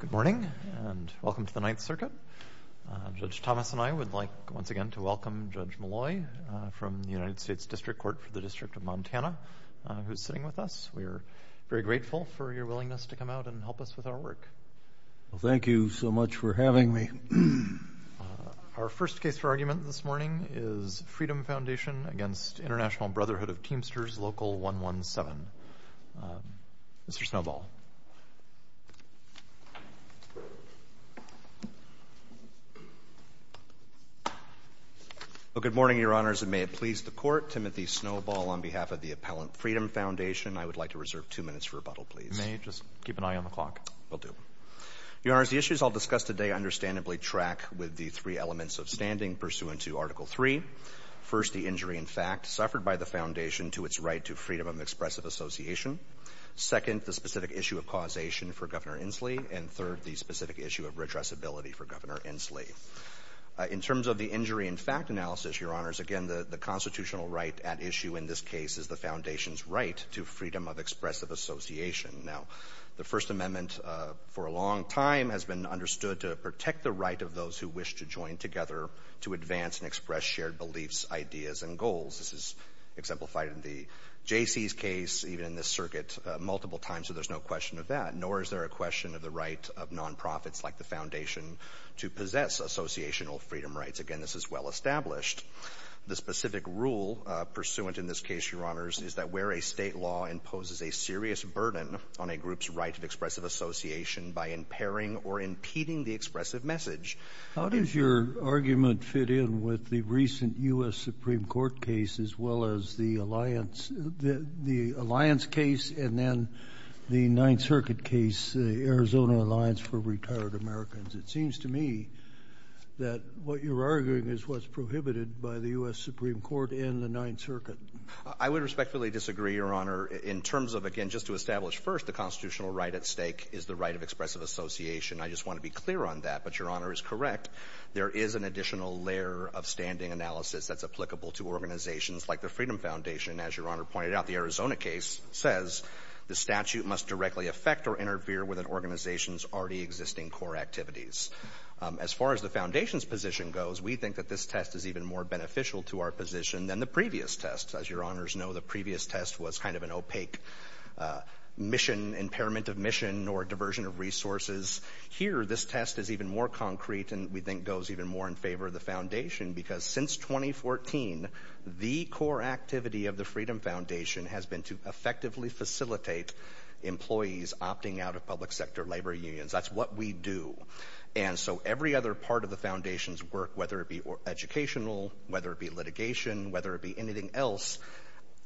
Good morning, and welcome to the Ninth Circuit. Judge Thomas and I would like, once again, to welcome Judge Molloy from the United States District Court for the District of Montana, who's sitting with us. We're very grateful for your willingness to come out and help us with our work. Well, thank you so much for having me. Our first case for argument this morning is Freedom Foundation against International Brotherhood of Teamsters Local 117. Mr. Snowball. Well, good morning, Your Honors, and may it please the Court. Timothy Snowball on behalf of the Appellant Freedom Foundation. I would like to reserve two minutes for rebuttal, please. May I just keep an eye on the clock? Will do. Your Honors, the issues I'll discuss today understandably track with the three elements of standing pursuant to Article III. First, the injury, in fact, suffered by the Foundation to its right to freedom of expressive association. Second, the specific issue of causation for Governor Inslee. And third, the specific issue of redressability for Governor Inslee. In terms of the injury, in fact, analysis, Your Honors, again, the constitutional right at issue in this case is the Foundation's right to freedom of expressive association. Now, the First Amendment, for a long time, has been understood to protect the right of those who wish to join together to advance and express shared beliefs, ideas, and goals. This is exemplified in the Jaycees case, even in this circuit, multiple times, so there's no question of that. Nor is there a question of the right of nonprofits like the Foundation to possess associational freedom rights. Again, this is well established. The specific rule pursuant in this case, Your Honors, is that where a state law imposes a serious burden on a group's right of expressive association by impairing or impeding the expressive message. How does your argument fit in with the recent U.S. Supreme Court case, as well as the alliance case, and then the Ninth Circuit case, the Arizona Alliance for Retired Americans? It seems to me that what you're arguing is what's prohibited by the U.S. Supreme Court and the Ninth Circuit. I would respectfully disagree, Your Honor, in terms of, again, just to establish first, the constitutional right at stake is the right of expressive association. I just want to be clear on that, but Your Honor is correct. There is an additional layer of standing analysis that's applicable to organizations like the Freedom Foundation, as Your Honor pointed out. The Arizona case says the statute must directly affect or interfere with an organization's already existing core activities. As far as the Foundation's position goes, we think that this test is even more beneficial to our position than the previous test. As Your Honors know, the previous test was kind of an opaque mission, impairment of mission or diversion of resources. Here, this test is even more concrete and we think goes even more in favor of the Foundation because since 2014, the core activity of the Freedom Foundation has been to effectively facilitate employees opting out of public sector labor unions. That's what we do. And so every other part of the Foundation's work, whether it be educational, whether it be litigation, whether it be anything else,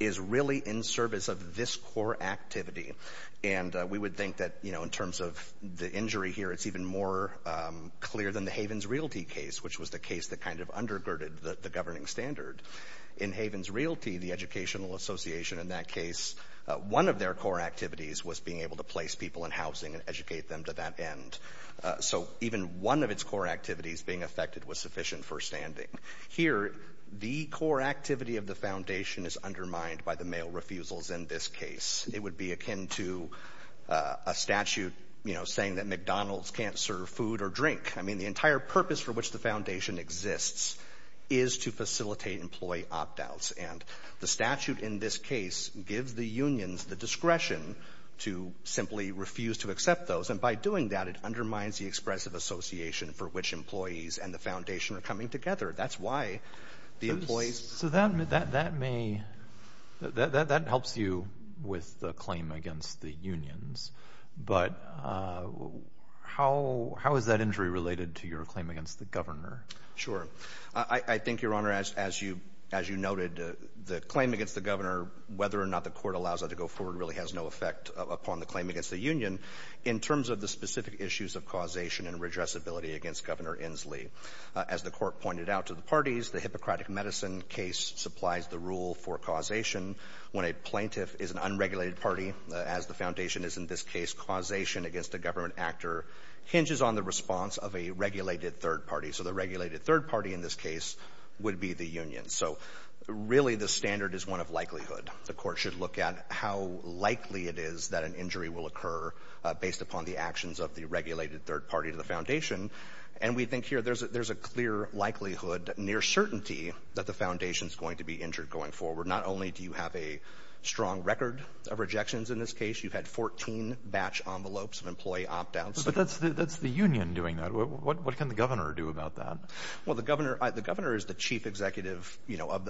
is really in service of this core activity. And we would think that, you know, in terms of the injury here, it's even more clear than the Havens Realty case, which was the case that kind of undergirded the governing standard. In Havens Realty, the educational association in that case, one of their core activities was being able to place people in housing and educate them to that end. So even one of its core activities being affected was sufficient for standing. Here, the core activity of the Foundation is undermined by the mail refusals in this case. It would be akin to a statute, you know, saying that McDonald's can't serve food or drink. I mean, the entire purpose for which the Foundation exists is to facilitate employee opt-outs. And the statute in this case gives the unions the discretion to simply refuse to accept those. And by doing that, it undermines the expressive association for which employees and the Foundation are coming together. That's why the employees— So that may—that helps you with the claim against the unions. But how is that injury related to your claim against the governor? Sure. I think, Your Honor, as you noted, the claim against the governor, whether or not the court allows it to go forward, really has no effect upon the claim against the union in terms of the specific issues of causation and redressability against Governor Inslee. As the court pointed out to the parties, the Hippocratic Medicine case supplies the rule for causation. When a plaintiff is an unregulated party, as the Foundation is in this case causation against a government actor, hinges on the response of a regulated third party. So the regulated third party in this case would be the union. So really, the standard is one of likelihood. The court should look at how likely it is that an injury will occur based upon the actions of the regulated third party to the Foundation. And we think here there's a clear likelihood, near certainty, that the Foundation's going to be injured going forward. Not only do you have a strong record of rejections in this case, you've had 14 batch envelopes of employee opt-outs. But that's the union doing that. What can the governor do about that? Well, the governor is the chief executive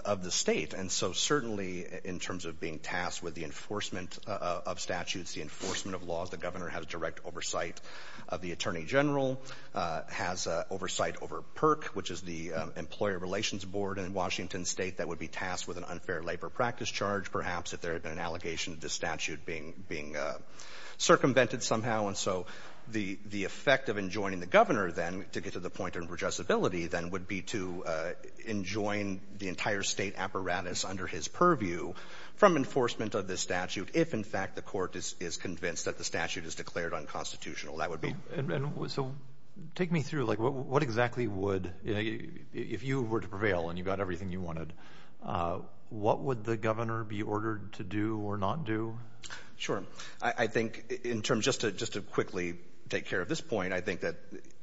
of the state. And so certainly, in terms of being tasked with the enforcement of statutes, the enforcement of laws, the governor has direct oversight of the attorney general. Has oversight over PERC, which is the Employer Relations Board in Washington State that would be tasked with an unfair labor practice charge, perhaps, if there had been an allegation of this statute being circumvented somehow. And so the effect of enjoining the governor, then, to get to the point of adjustability, then, would be to enjoin the entire state apparatus under his purview from enforcement of this statute, if, in fact, the court is convinced that the statute is declared unconstitutional. And so take me through, like, what exactly would, if you were to prevail and you got everything you wanted, what would the governor be ordered to do or not do? Sure. I think, in terms, just to quickly take care of this point, I think that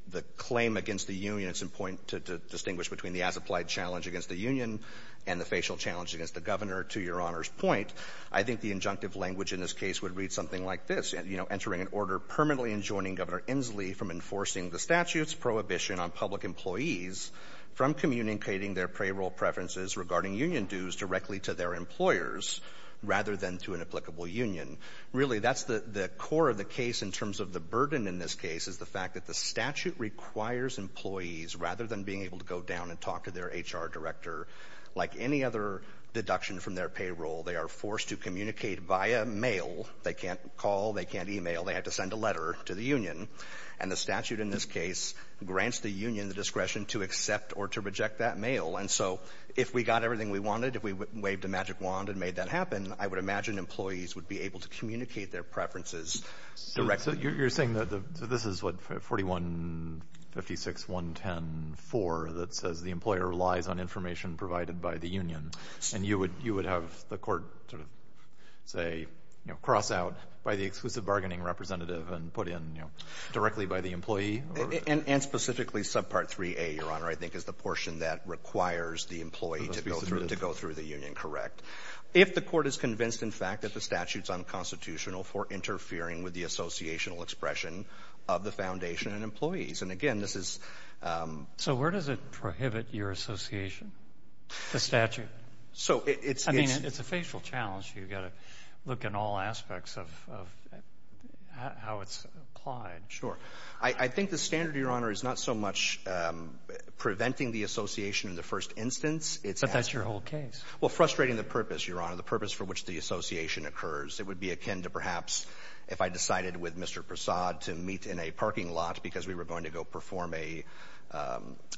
the claim against the union, it's important to distinguish between the as-applied challenge against the union and the facial challenge against the governor, to Your Honor's point. I think the injunctive language in this case would read something like this, you know, entering an order permanently enjoining Governor Inslee from enforcing the statute's prohibition on public employees from communicating their payroll preferences regarding union dues directly to their employers, rather than to an applicable union. Really, that's the core of the case, in terms of the burden in this case, is the fact that the statute requires employees, rather than being able to go down and talk to their HR director, like any other deduction from their payroll, they are forced to communicate via mail. They can't call, they can't email, they have to send a letter to the union. And the statute in this case grants the union the discretion to accept or to reject that mail. And so, if we got everything we wanted, if we waved a magic wand and made that happen, I would imagine employees would be able to communicate their preferences directly. So you're saying that this is what, 4156.110.4, that says the employer relies on information provided by the union, and you would have the court, sort of, say, you know, cross out by the exclusive bargaining representative and put in, you know, directly by the employee? And specifically, subpart 3A, Your Honor, I think is the portion that requires the employee to go through the union, correct? If the court is convinced, in fact, that the statute's unconstitutional for interfering with the associational expression of the foundation and employees. And again, this is... So where does it prohibit your association, the statute? So, it's... I mean, it's a facial challenge. You've got to look in all aspects of how it's applied. Sure. I think the standard, Your Honor, is not so much preventing the association in the first instance, it's... But that's your whole case. Well, frustrating the purpose, Your Honor, the purpose for which the association occurs. It would be akin to, perhaps, if I decided with Mr. Prasad to meet in a parking lot because we were going to go perform a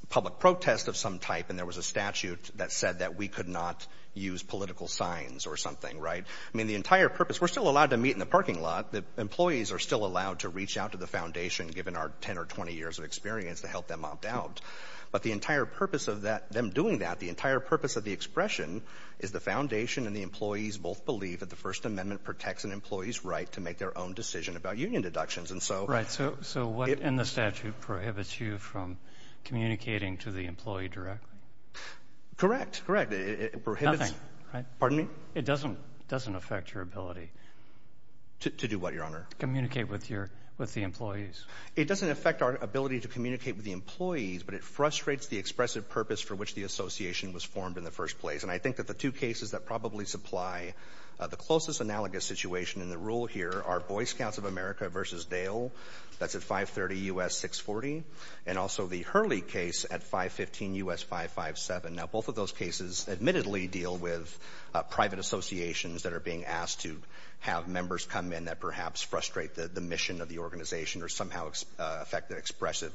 public protest of some type and there was a statute that said that we could not use political signs or something, right? I mean, the entire purpose... We're still allowed to meet in the parking lot. The employees are still allowed to reach out to the foundation given our 10 or 20 years of experience to help them opt out. But the entire purpose of that, them doing that, the entire purpose of the expression is the foundation and the employees both believe that the First Amendment protects an employee's right to make their own decision about union deductions. And so... And the statute prohibits you from communicating to the employee directly? Correct, correct. It prohibits... Nothing, right? Pardon me? It doesn't affect your ability... To do what, Your Honor? Communicate with the employees. It doesn't affect our ability to communicate with the employees, but it frustrates the expressive purpose for which the association was formed in the first place. And I think that the two cases that probably supply the closest analogous situation in the rule here are Boy Scouts of America versus Dale. That's at 530 U.S. 640. And also the Hurley case at 515 U.S. 557. Now, both of those cases admittedly deal with private associations that are being asked to have members come in that perhaps frustrate the mission of the organization or somehow affect the expressive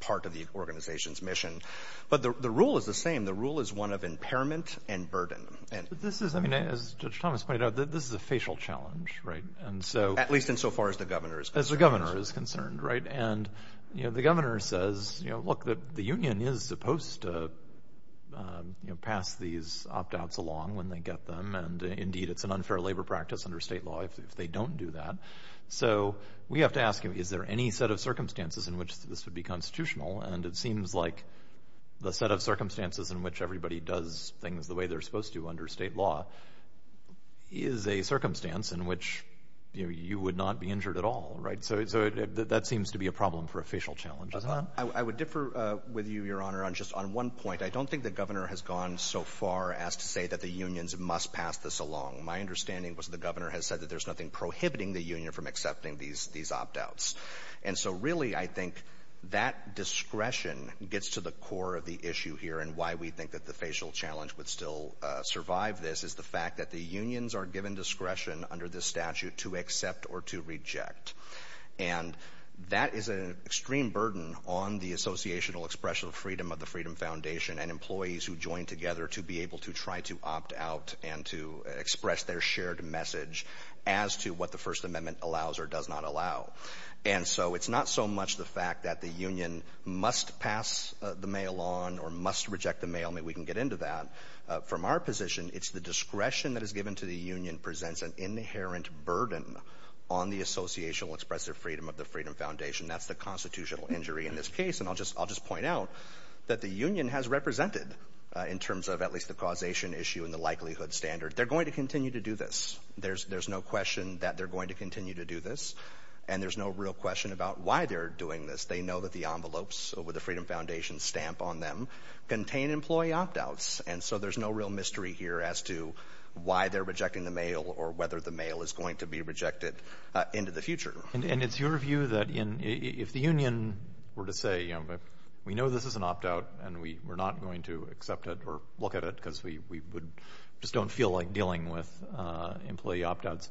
part of the organization's mission. But the rule is the same. The rule is one of impairment and burden. This is... I mean, as Judge Thomas pointed out, this is a facial challenge, right? At least insofar as the governor is concerned. As the governor is concerned, right? And the governor says, look, the union is supposed to pass these opt-outs along when they get them. And indeed, it's an unfair labor practice under state law if they don't do that. So we have to ask him, is there any set of circumstances in which this would be constitutional? And it seems like the set of circumstances in which everybody does things the way they're supposed to under state law is a circumstance in which, you know, you would not be injured at all, right? So that seems to be a problem for a facial challenge, doesn't it? I would differ with you, Your Honor, on just one point. I don't think the governor has gone so far as to say that the unions must pass this along. My understanding was the governor has said that there's nothing prohibiting the union from accepting these opt-outs. And so really, I think that discretion gets to the core of the issue here and why we think that the facial challenge would still survive this is the fact that the unions are given discretion under this statute to accept or to reject. And that is an extreme burden on the associational expression of freedom of the Freedom Foundation and employees who join together to be able to try to opt-out and to express their shared message as to what the First Amendment allows or does not allow. And so it's not so much the fact that the union must pass the mail on or must reject the mail, I mean, we can get into that. From our position, it's the discretion that is given to the union presents an inherent burden on the associational expressive freedom of the Freedom Foundation. That's the constitutional injury in this case. And I'll just point out that the union has represented, in terms of at least the causation issue and the likelihood standard, they're going to continue to do this. There's no question that they're going to continue to do this. And there's no real question about why they're doing this. They know that the envelopes with the Freedom Foundation stamp on them contain employee opt-outs. And so there's no real mystery here as to why they're rejecting the mail or whether the mail is going to be rejected into the future. And it's your view that if the union were to say, you know, we know this is an opt-out and we're not going to accept it or look at it because we just don't feel like dealing with employee opt-outs,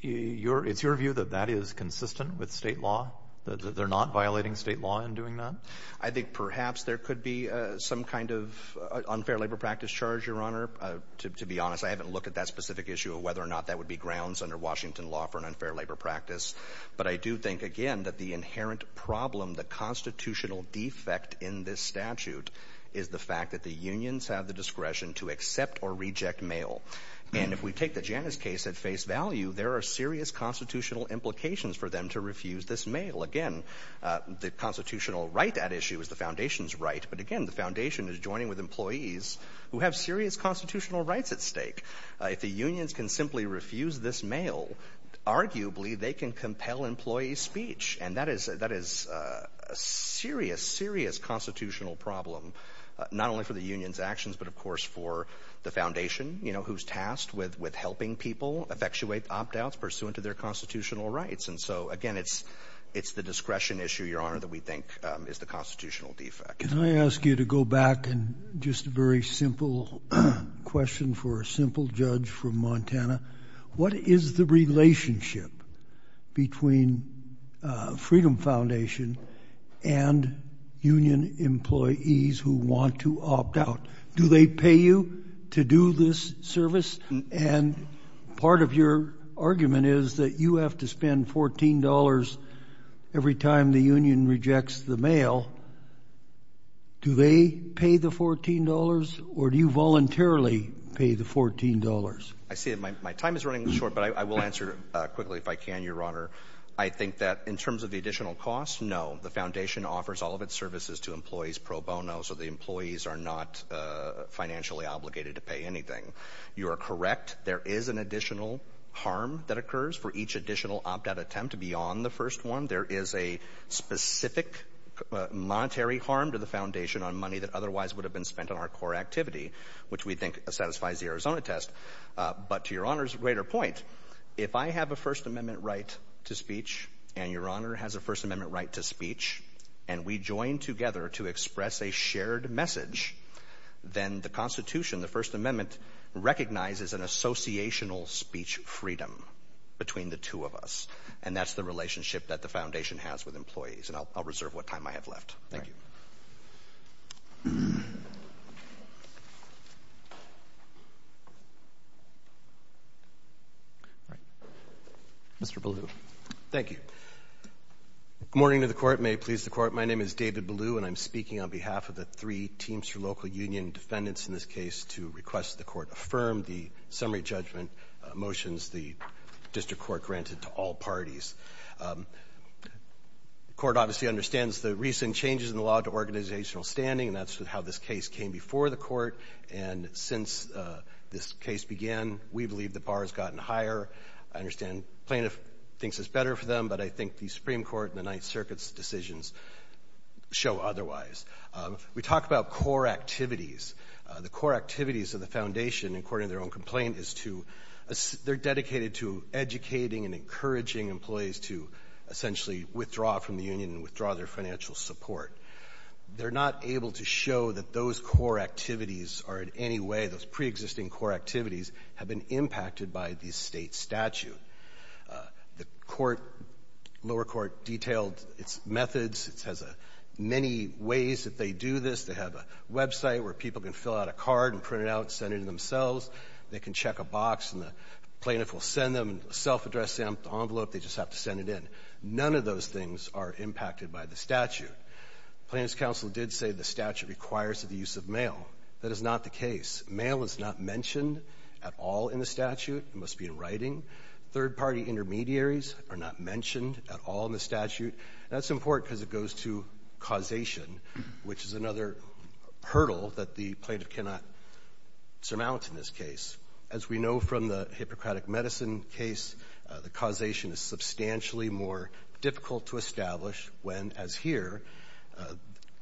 it's your view that that is consistent with state law, that they're not violating state law in doing that? I think perhaps there could be some kind of unfair labor practice charge, Your Honor. To be honest, I haven't looked at that specific issue of whether or not that would be grounds under Washington law for an unfair labor practice. But I do think, again, that the inherent problem, the constitutional defect in this statute, is the fact that the unions have the discretion to accept or reject mail. And if we take the Janus case at face value, there are serious constitutional implications for them to refuse this mail. Again, the constitutional right at issue is the foundation's right. But again, the foundation is joining with employees who have serious constitutional rights at stake. If the unions can simply refuse this mail, arguably, they can compel employee speech. And that is a serious, serious constitutional problem, not only for the union's actions, but of course for the foundation, you know, who's tasked with helping people effectuate opt-outs pursuant to their constitutional rights. And so, again, it's the discretion issue, Your Honor, that we think is the constitutional defect. Can I ask you to go back and just a very simple question for a simple judge from Montana? What is the relationship between Freedom Foundation and union employees who want to opt out? Do they pay you to do this service? And part of your argument is that you have to spend $14 every time the union rejects the mail. Do they pay the $14, or do you voluntarily pay the $14? I see that my time is running short, but I will answer quickly if I can, Your Honor. I think that in terms of the additional costs, no. The foundation offers all of its services to employees pro bono, so the employees are not financially obligated to pay anything. You are correct. There is an additional harm that occurs for each additional opt-out attempt beyond the first one. There is a specific monetary harm to the foundation on money that otherwise would have been spent on our core activity, which we think satisfies the Arizona test. But to Your Honor's greater point, if I have a First Amendment right to speech, and Your Honor has a First Amendment right to speech, and we join together to express a shared message, then the Constitution, the First Amendment, recognizes an associational speech freedom between the two of us. And that's the relationship that the foundation has with employees. And I'll reserve what time I have left. Thank you. Mr. Ballew. Thank you. Good morning to the Court. May it please the Court. My name is David Ballew, and I'm speaking on behalf of the three Teams for Local Union defendants in this case to request the Court affirm the summary judgment motions the District Court granted to all parties. The Court obviously understands the recent changes in the law to organizational standing, and that's how this case came before the Court. And since this case began, we believe the bar has gotten higher. I understand the plaintiff thinks it's better for them, but I think the Supreme Court and the Ninth Circuit's decisions show otherwise. We talk about core activities. The core activities of the foundation, according to their own complaint, is to—they're dedicated to educating and encouraging employees to essentially withdraw from the union and withdraw their financial support. They're not able to show that those core activities are in any way— those preexisting core activities have been impacted by the state statute. The Court—lower court detailed its methods. It has many ways that they do this. They have a website where people can fill out a card and print it out and send it to themselves. They can check a box, and the plaintiff will send them a self-addressed envelope. They just have to send it in. None of those things are impacted by the statute. Plaintiff's counsel did say the statute requires the use of mail. That is not the case. Mail is not mentioned at all in the statute. It must be in writing. Third-party intermediaries are not mentioned at all in the statute. That's important because it goes to causation, which is another hurdle that the plaintiff cannot surmount in this case. As we know from the Hippocratic Medicine case, the causation is substantially more difficult to establish when, as here,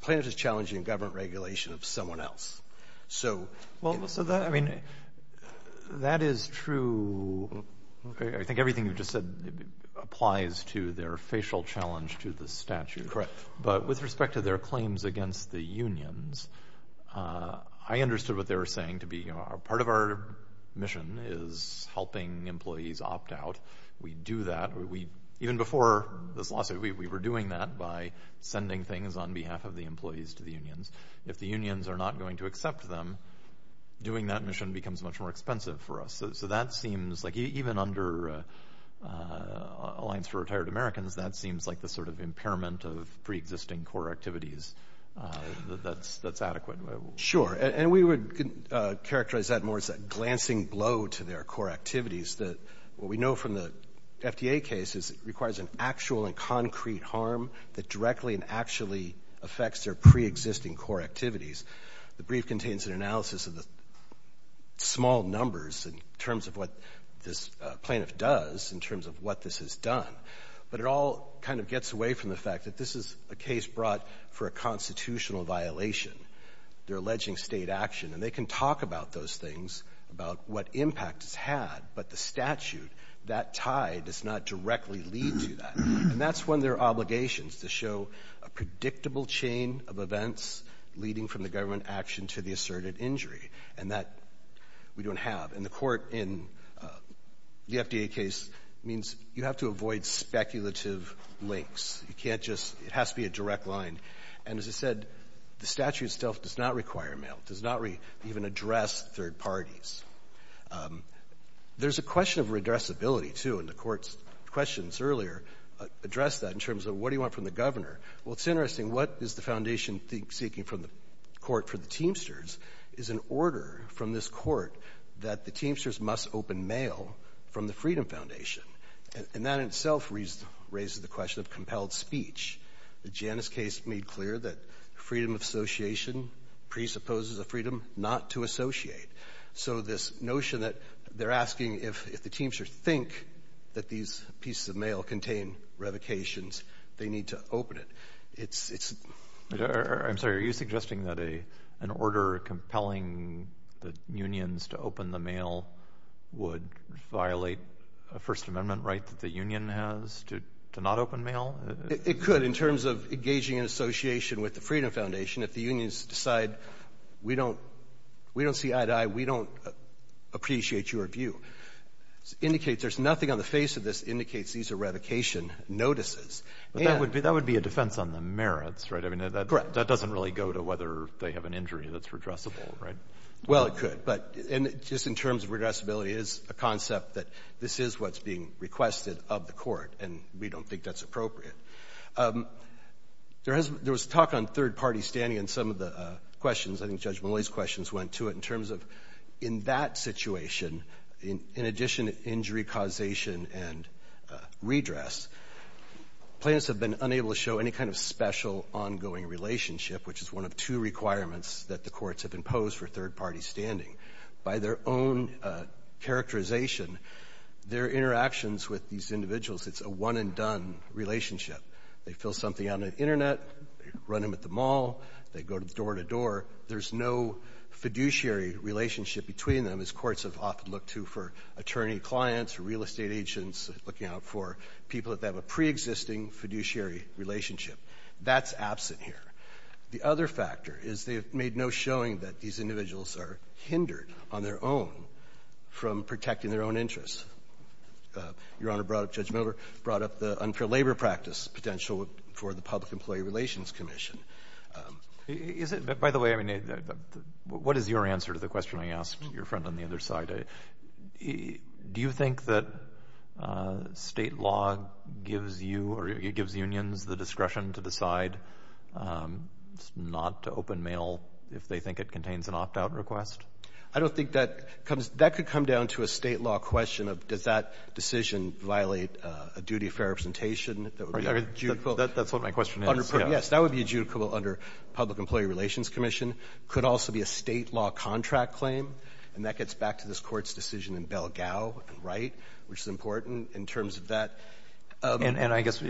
plaintiff is challenging government regulation of someone else. So— I think everything you just said applies to their facial challenge to the statute. But with respect to their claims against the unions, I understood what they were saying to be— part of our mission is helping employees opt out. We do that. Even before this lawsuit, we were doing that by sending things on behalf of the employees to the unions. If the unions are not going to accept them, doing that mission becomes much more expensive for us. So that seems like, even under Alliance for Retired Americans, that seems like the sort of impairment of pre-existing core activities that's adequate. Sure. And we would characterize that more as a glancing blow to their core activities. What we know from the FDA case is it requires an actual and concrete harm that directly and actually affects their pre-existing core activities. The brief contains an analysis of the small numbers in terms of what this plaintiff does, in terms of what this has done. But it all kind of gets away from the fact that this is a case brought for a constitutional violation. They're alleging state action. And they can talk about those things, about what impact it's had. But the statute, that tie does not directly lead to that. And that's when there are obligations to show a predictable chain of events leading from the government action to the asserted injury. And that we don't have. And the court in the FDA case means you have to avoid speculative links. You can't just—it has to be a direct line. And as I said, the statute itself does not require mail. It does not even address third parties. There's a question of redressability, too, in the court's questions earlier. Address that in terms of what do you want from the governor? Well, it's interesting. What is the foundation seeking from the court for the Teamsters is an order from this court that the Teamsters must open mail from the Freedom Foundation. And that in itself raises the question of compelled speech. The Janus case made clear that freedom of association presupposes a freedom not to associate. So this notion that they're asking if the Teamsters think that these pieces of mail contain revocations, they need to open it. It's— I'm sorry. Are you suggesting that an order compelling the unions to open the mail would violate a First Amendment right that the union has to not open mail? It could in terms of engaging in association with the Freedom Foundation. If the unions decide, we don't see eye to eye, we don't appreciate your view, it indicates there's nothing on the face of this that indicates these are revocation notices. But that would be a defense on the merits, right? I mean, that doesn't really go to whether they have an injury that's redressable, right? Well, it could. But just in terms of redressability, it is a concept that this is what's being requested of the court, and we don't think that's appropriate. There was talk on third-party standing in some of the questions. I think Judge Malloy's questions went to it in terms of in that situation, in addition to injury causation and redress, plaintiffs have been unable to show any kind of special ongoing relationship, which is one of two requirements that the courts have imposed for third-party standing. By their own characterization, their interactions with these individuals, it's a one-and-done relationship. They fill something out on the Internet, run them at the mall, they go door-to-door. There's no fiduciary relationship between them, as courts have often looked to for attorney clients, real estate agents, looking out for people that have a preexisting fiduciary relationship. That's absent here. The other factor is they've made no showing that these individuals are hindered on their own from protecting their own interests. Your Honor brought up Judge Miller, brought up the unfair labor practice potential for the Public Employee Relations Commission. By the way, what is your answer to the question I asked your friend on the other side? Do you think that state law gives you or gives unions the discretion to decide not to open mail if they think it contains an opt-out request? I don't think that comes — that could come down to a state law question of does that decision violate a duty of fair representation that would be adjudicable? That's what my question is, yeah. Yes, that would be adjudicable under Public Employee Relations Commission. Could also be a state law contract claim, and that gets back to this Court's decision in Bell-Gao and Wright, which is important in terms of that. And I guess,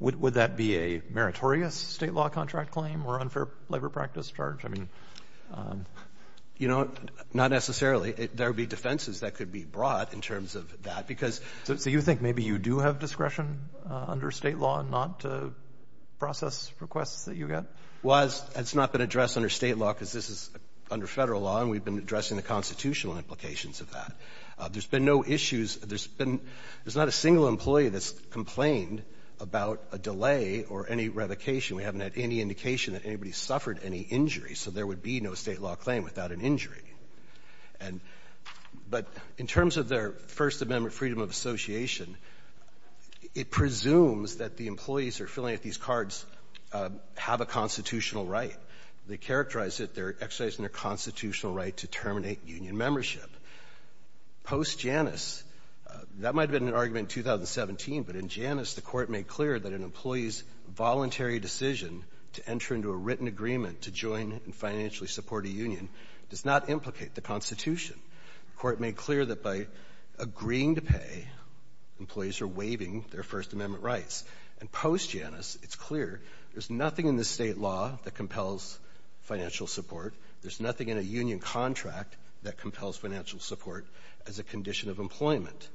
would that be a meritorious state law contract claim or unfair labor practice charge? I mean — You know, not necessarily. There would be defenses that could be brought in terms of that because — So you think maybe you do have discretion under state law not to process requests that you get? Well, it's not been addressed under state law because this is under Federal law, and we've been addressing the constitutional implications of that. There's been no issues — there's been — there's not a single employee that's complained about a delay or any revocation. We haven't had any indication that anybody's suffered any injury, so there would be no state law claim without an injury. And — but in terms of their First Amendment freedom of association, it presumes that the employees who are filling out these cards have a constitutional right. They characterize it, they're exercising their constitutional right to terminate union membership. Post-Janus, that might have been an argument in 2017, but in Janus, the Court made clear that an employee's voluntary decision to enter into a written agreement to join and financially support a union does not implicate the Constitution. The Court made clear that by agreeing to pay, employees are waiving their First Amendment rights. And post-Janus, it's clear there's nothing in the state law that compels financial support. There's nothing in a union contract that compels financial support as a condition of employment.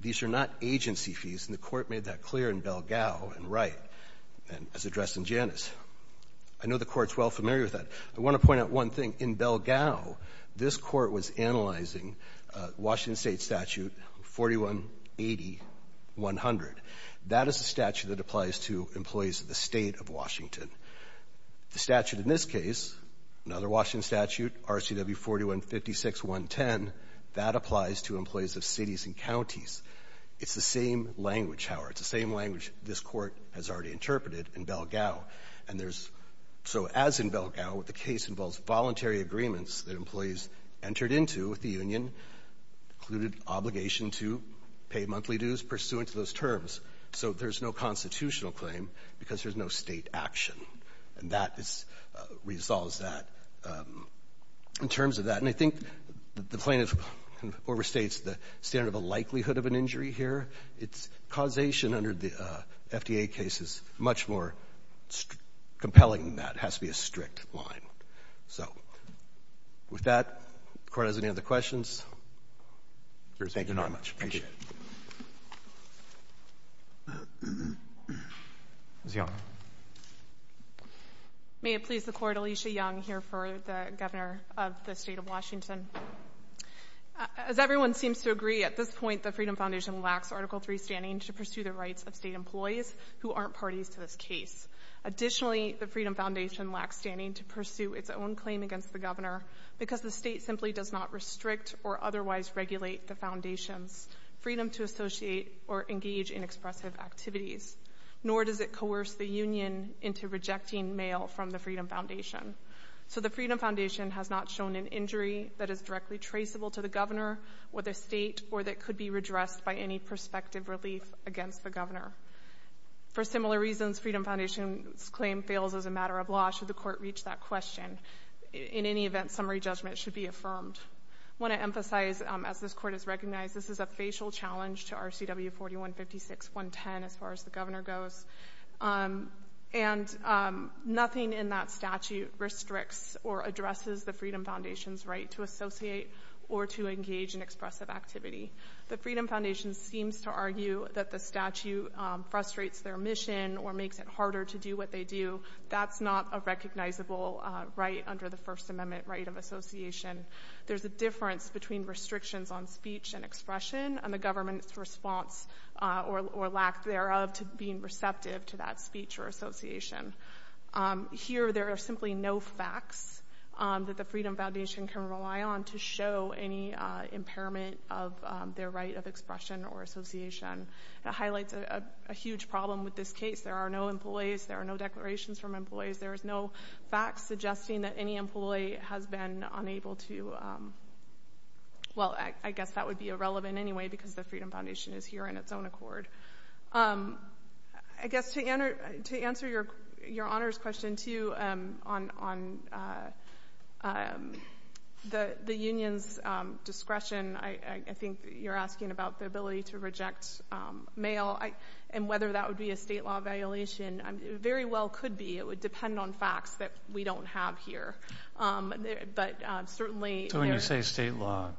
These are not agency fees, and the Court made that clear in Belgao and Wright and as addressed in Janus. I know the Court's well familiar with that. I want to point out one thing. In Belgao, this Court was analyzing Washington State Statute 4180.100. That is a statute that applies to employees of the State of Washington. The statute in this case, another Washington statute, RCW 4156.110, that applies to employees of cities and counties. It's the same language, Howard. It's the same language this Court has already interpreted in Belgao. And there's, so as in Belgao, the case involves voluntary agreements that employees entered into with the union, included obligation to pay monthly dues pursuant to those terms. So there's no constitutional claim because there's no state action. And that resolves that. In terms of that, and I think the plaintiff overstates the standard of a likelihood of an injury here. It's causation under the FDA case is much more compelling than that. It has to be a strict line. So with that, does the Court have any other questions? Thank you very much. I appreciate it. Ms. Young. May it please the Court, Alicia Young here for the Governor of the State of Washington. As everyone seems to agree, at this point, the Freedom Foundation lacks Article 3 standing to pursue the rights of state employees who aren't parties to this case. Additionally, the Freedom Foundation lacks standing to pursue its own claim against the governor because the state simply does not restrict or otherwise regulate the foundation's freedom to associate or engage in expressive activities. Nor does it coerce the union into rejecting mail from the Freedom Foundation. So the Freedom Foundation has not shown an injury that is directly traceable to the governor with a state or that could be redressed by any prospective relief against the governor. For similar reasons, Freedom Foundation's claim fails as a matter of law. Should the court reach that question? In any event, summary judgment should be affirmed. I want to emphasize, as this court has recognized, this is a facial challenge to RCW 4156.110 as far as the governor goes. And nothing in that statute restricts or addresses the Freedom Foundation's right to associate or to engage in expressive activity. The Freedom Foundation seems to argue that the statute frustrates their mission or makes it harder to do what they do. That's not a recognizable right under the First Amendment right of association. There's a difference between restrictions on speech and expression and the government's response or lack thereof to being receptive to that speech or association. Here, there are simply no facts that the Freedom Foundation can rely on to show any impairment of their right of expression or association. That highlights a huge problem with this case. There are no employees. There are no declarations from employees. There is no fact suggesting that any employee has been unable to, well, I guess that would be irrelevant anyway because the Freedom Foundation is here in its own accord. I guess to answer your honors question, too, on the union's discretion, I think you're asking about the ability to reject mail and whether that would be a state law violation. It very well could be. It would depend on facts that we don't have here. But certainly— So when you say state law,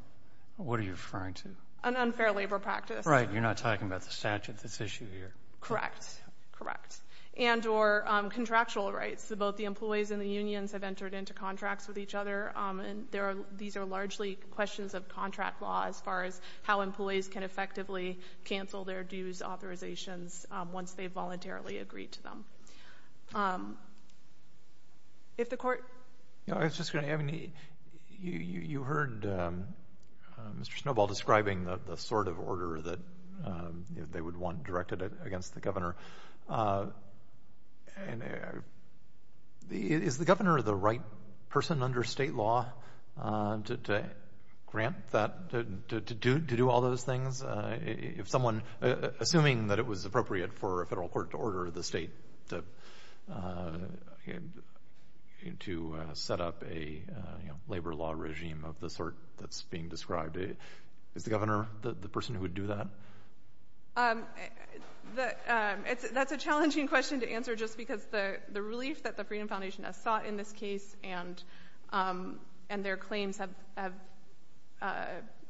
what are you referring to? An unfair labor practice. Right. You're not talking about the statute that's at issue here. Correct. Correct. And or contractual rights. So both the employees and the unions have entered into contracts with each other. And these are largely questions of contract law as far as how employees can effectively cancel their dues, authorizations, once they've voluntarily agreed to them. If the court— I was just going to—you heard Mr. Snowball describing the sort of order that they would want directed against the governor. Is the governor the right person under state law to grant that, to do all those things? If someone—assuming that it was appropriate for a federal court to order the state to set up a labor law regime of the sort that's being described, is the governor the person who would do that? That's a challenging question to answer just because the relief that the Freedom Foundation has sought in this case and their claims have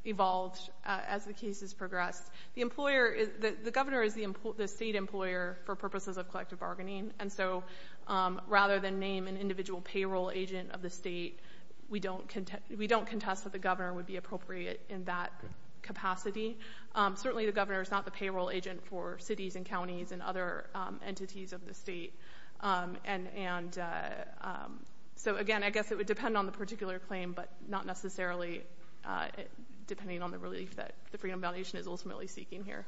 evolved as the case has progressed. The employer—the governor is the state employer for purposes of collective bargaining. And so rather than name an individual payroll agent of the state, we don't contest that the governor would be appropriate in that capacity. Certainly, the governor is not the payroll agent for cities and counties and other entities of the state. And so again, I guess it would depend on the particular claim, but not necessarily depending on the relief that the Freedom Foundation is ultimately seeking here.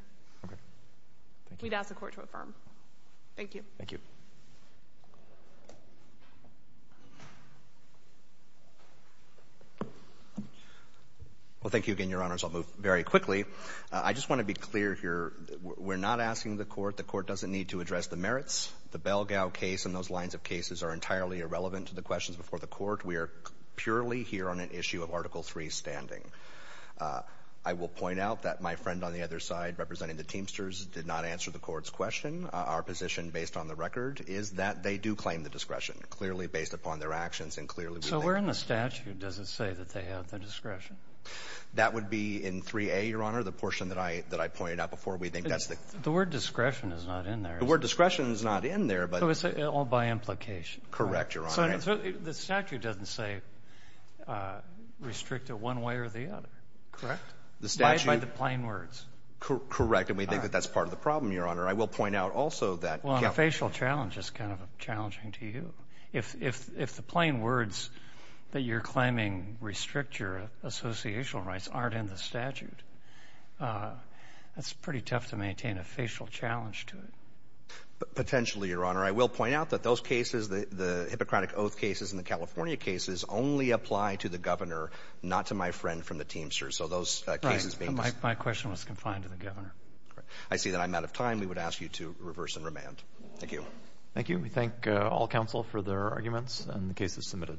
We'd ask the court to affirm. Thank you. Thank you. Well, thank you again, Your Honors. I'll move very quickly. I just want to be clear here. We're not asking the court. The court doesn't need to address the merits. The Belgao case and those lines of cases are entirely irrelevant to the questions before the court. We are purely here on an issue of Article III standing. I will point out that my friend on the other side representing the Teamsters did not answer the court's question. Our position based on the record is that they do claim the discretion, clearly based upon their actions and clearly— So where in the statute does it say that they have the discretion? That would be in 3A, Your Honor, the portion that I pointed out before. We think that's the— The word discretion is not in there, is it? The word discretion is not in there, but— So it's all by implication. Correct, Your Honor. So the statute doesn't say restrict it one way or the other, correct? The statute— By the plain words. Correct. And we think that that's part of the problem, Your Honor. I will point out also that— Well, the facial challenge is kind of challenging to you. If the plain words that you're claiming restrict your associational rights aren't in the statute, that's pretty tough to maintain a facial challenge to it. Potentially, Your Honor. I will point out that those cases, the Hippocratic Oath cases and the California cases only apply to the governor, not to my friend from the Teamsters. So those cases being— Right. My question was confined to the governor. I see that I'm out of time. We would ask you to reverse and remand. Thank you. Thank you. We thank all counsel for their arguments and the cases submitted.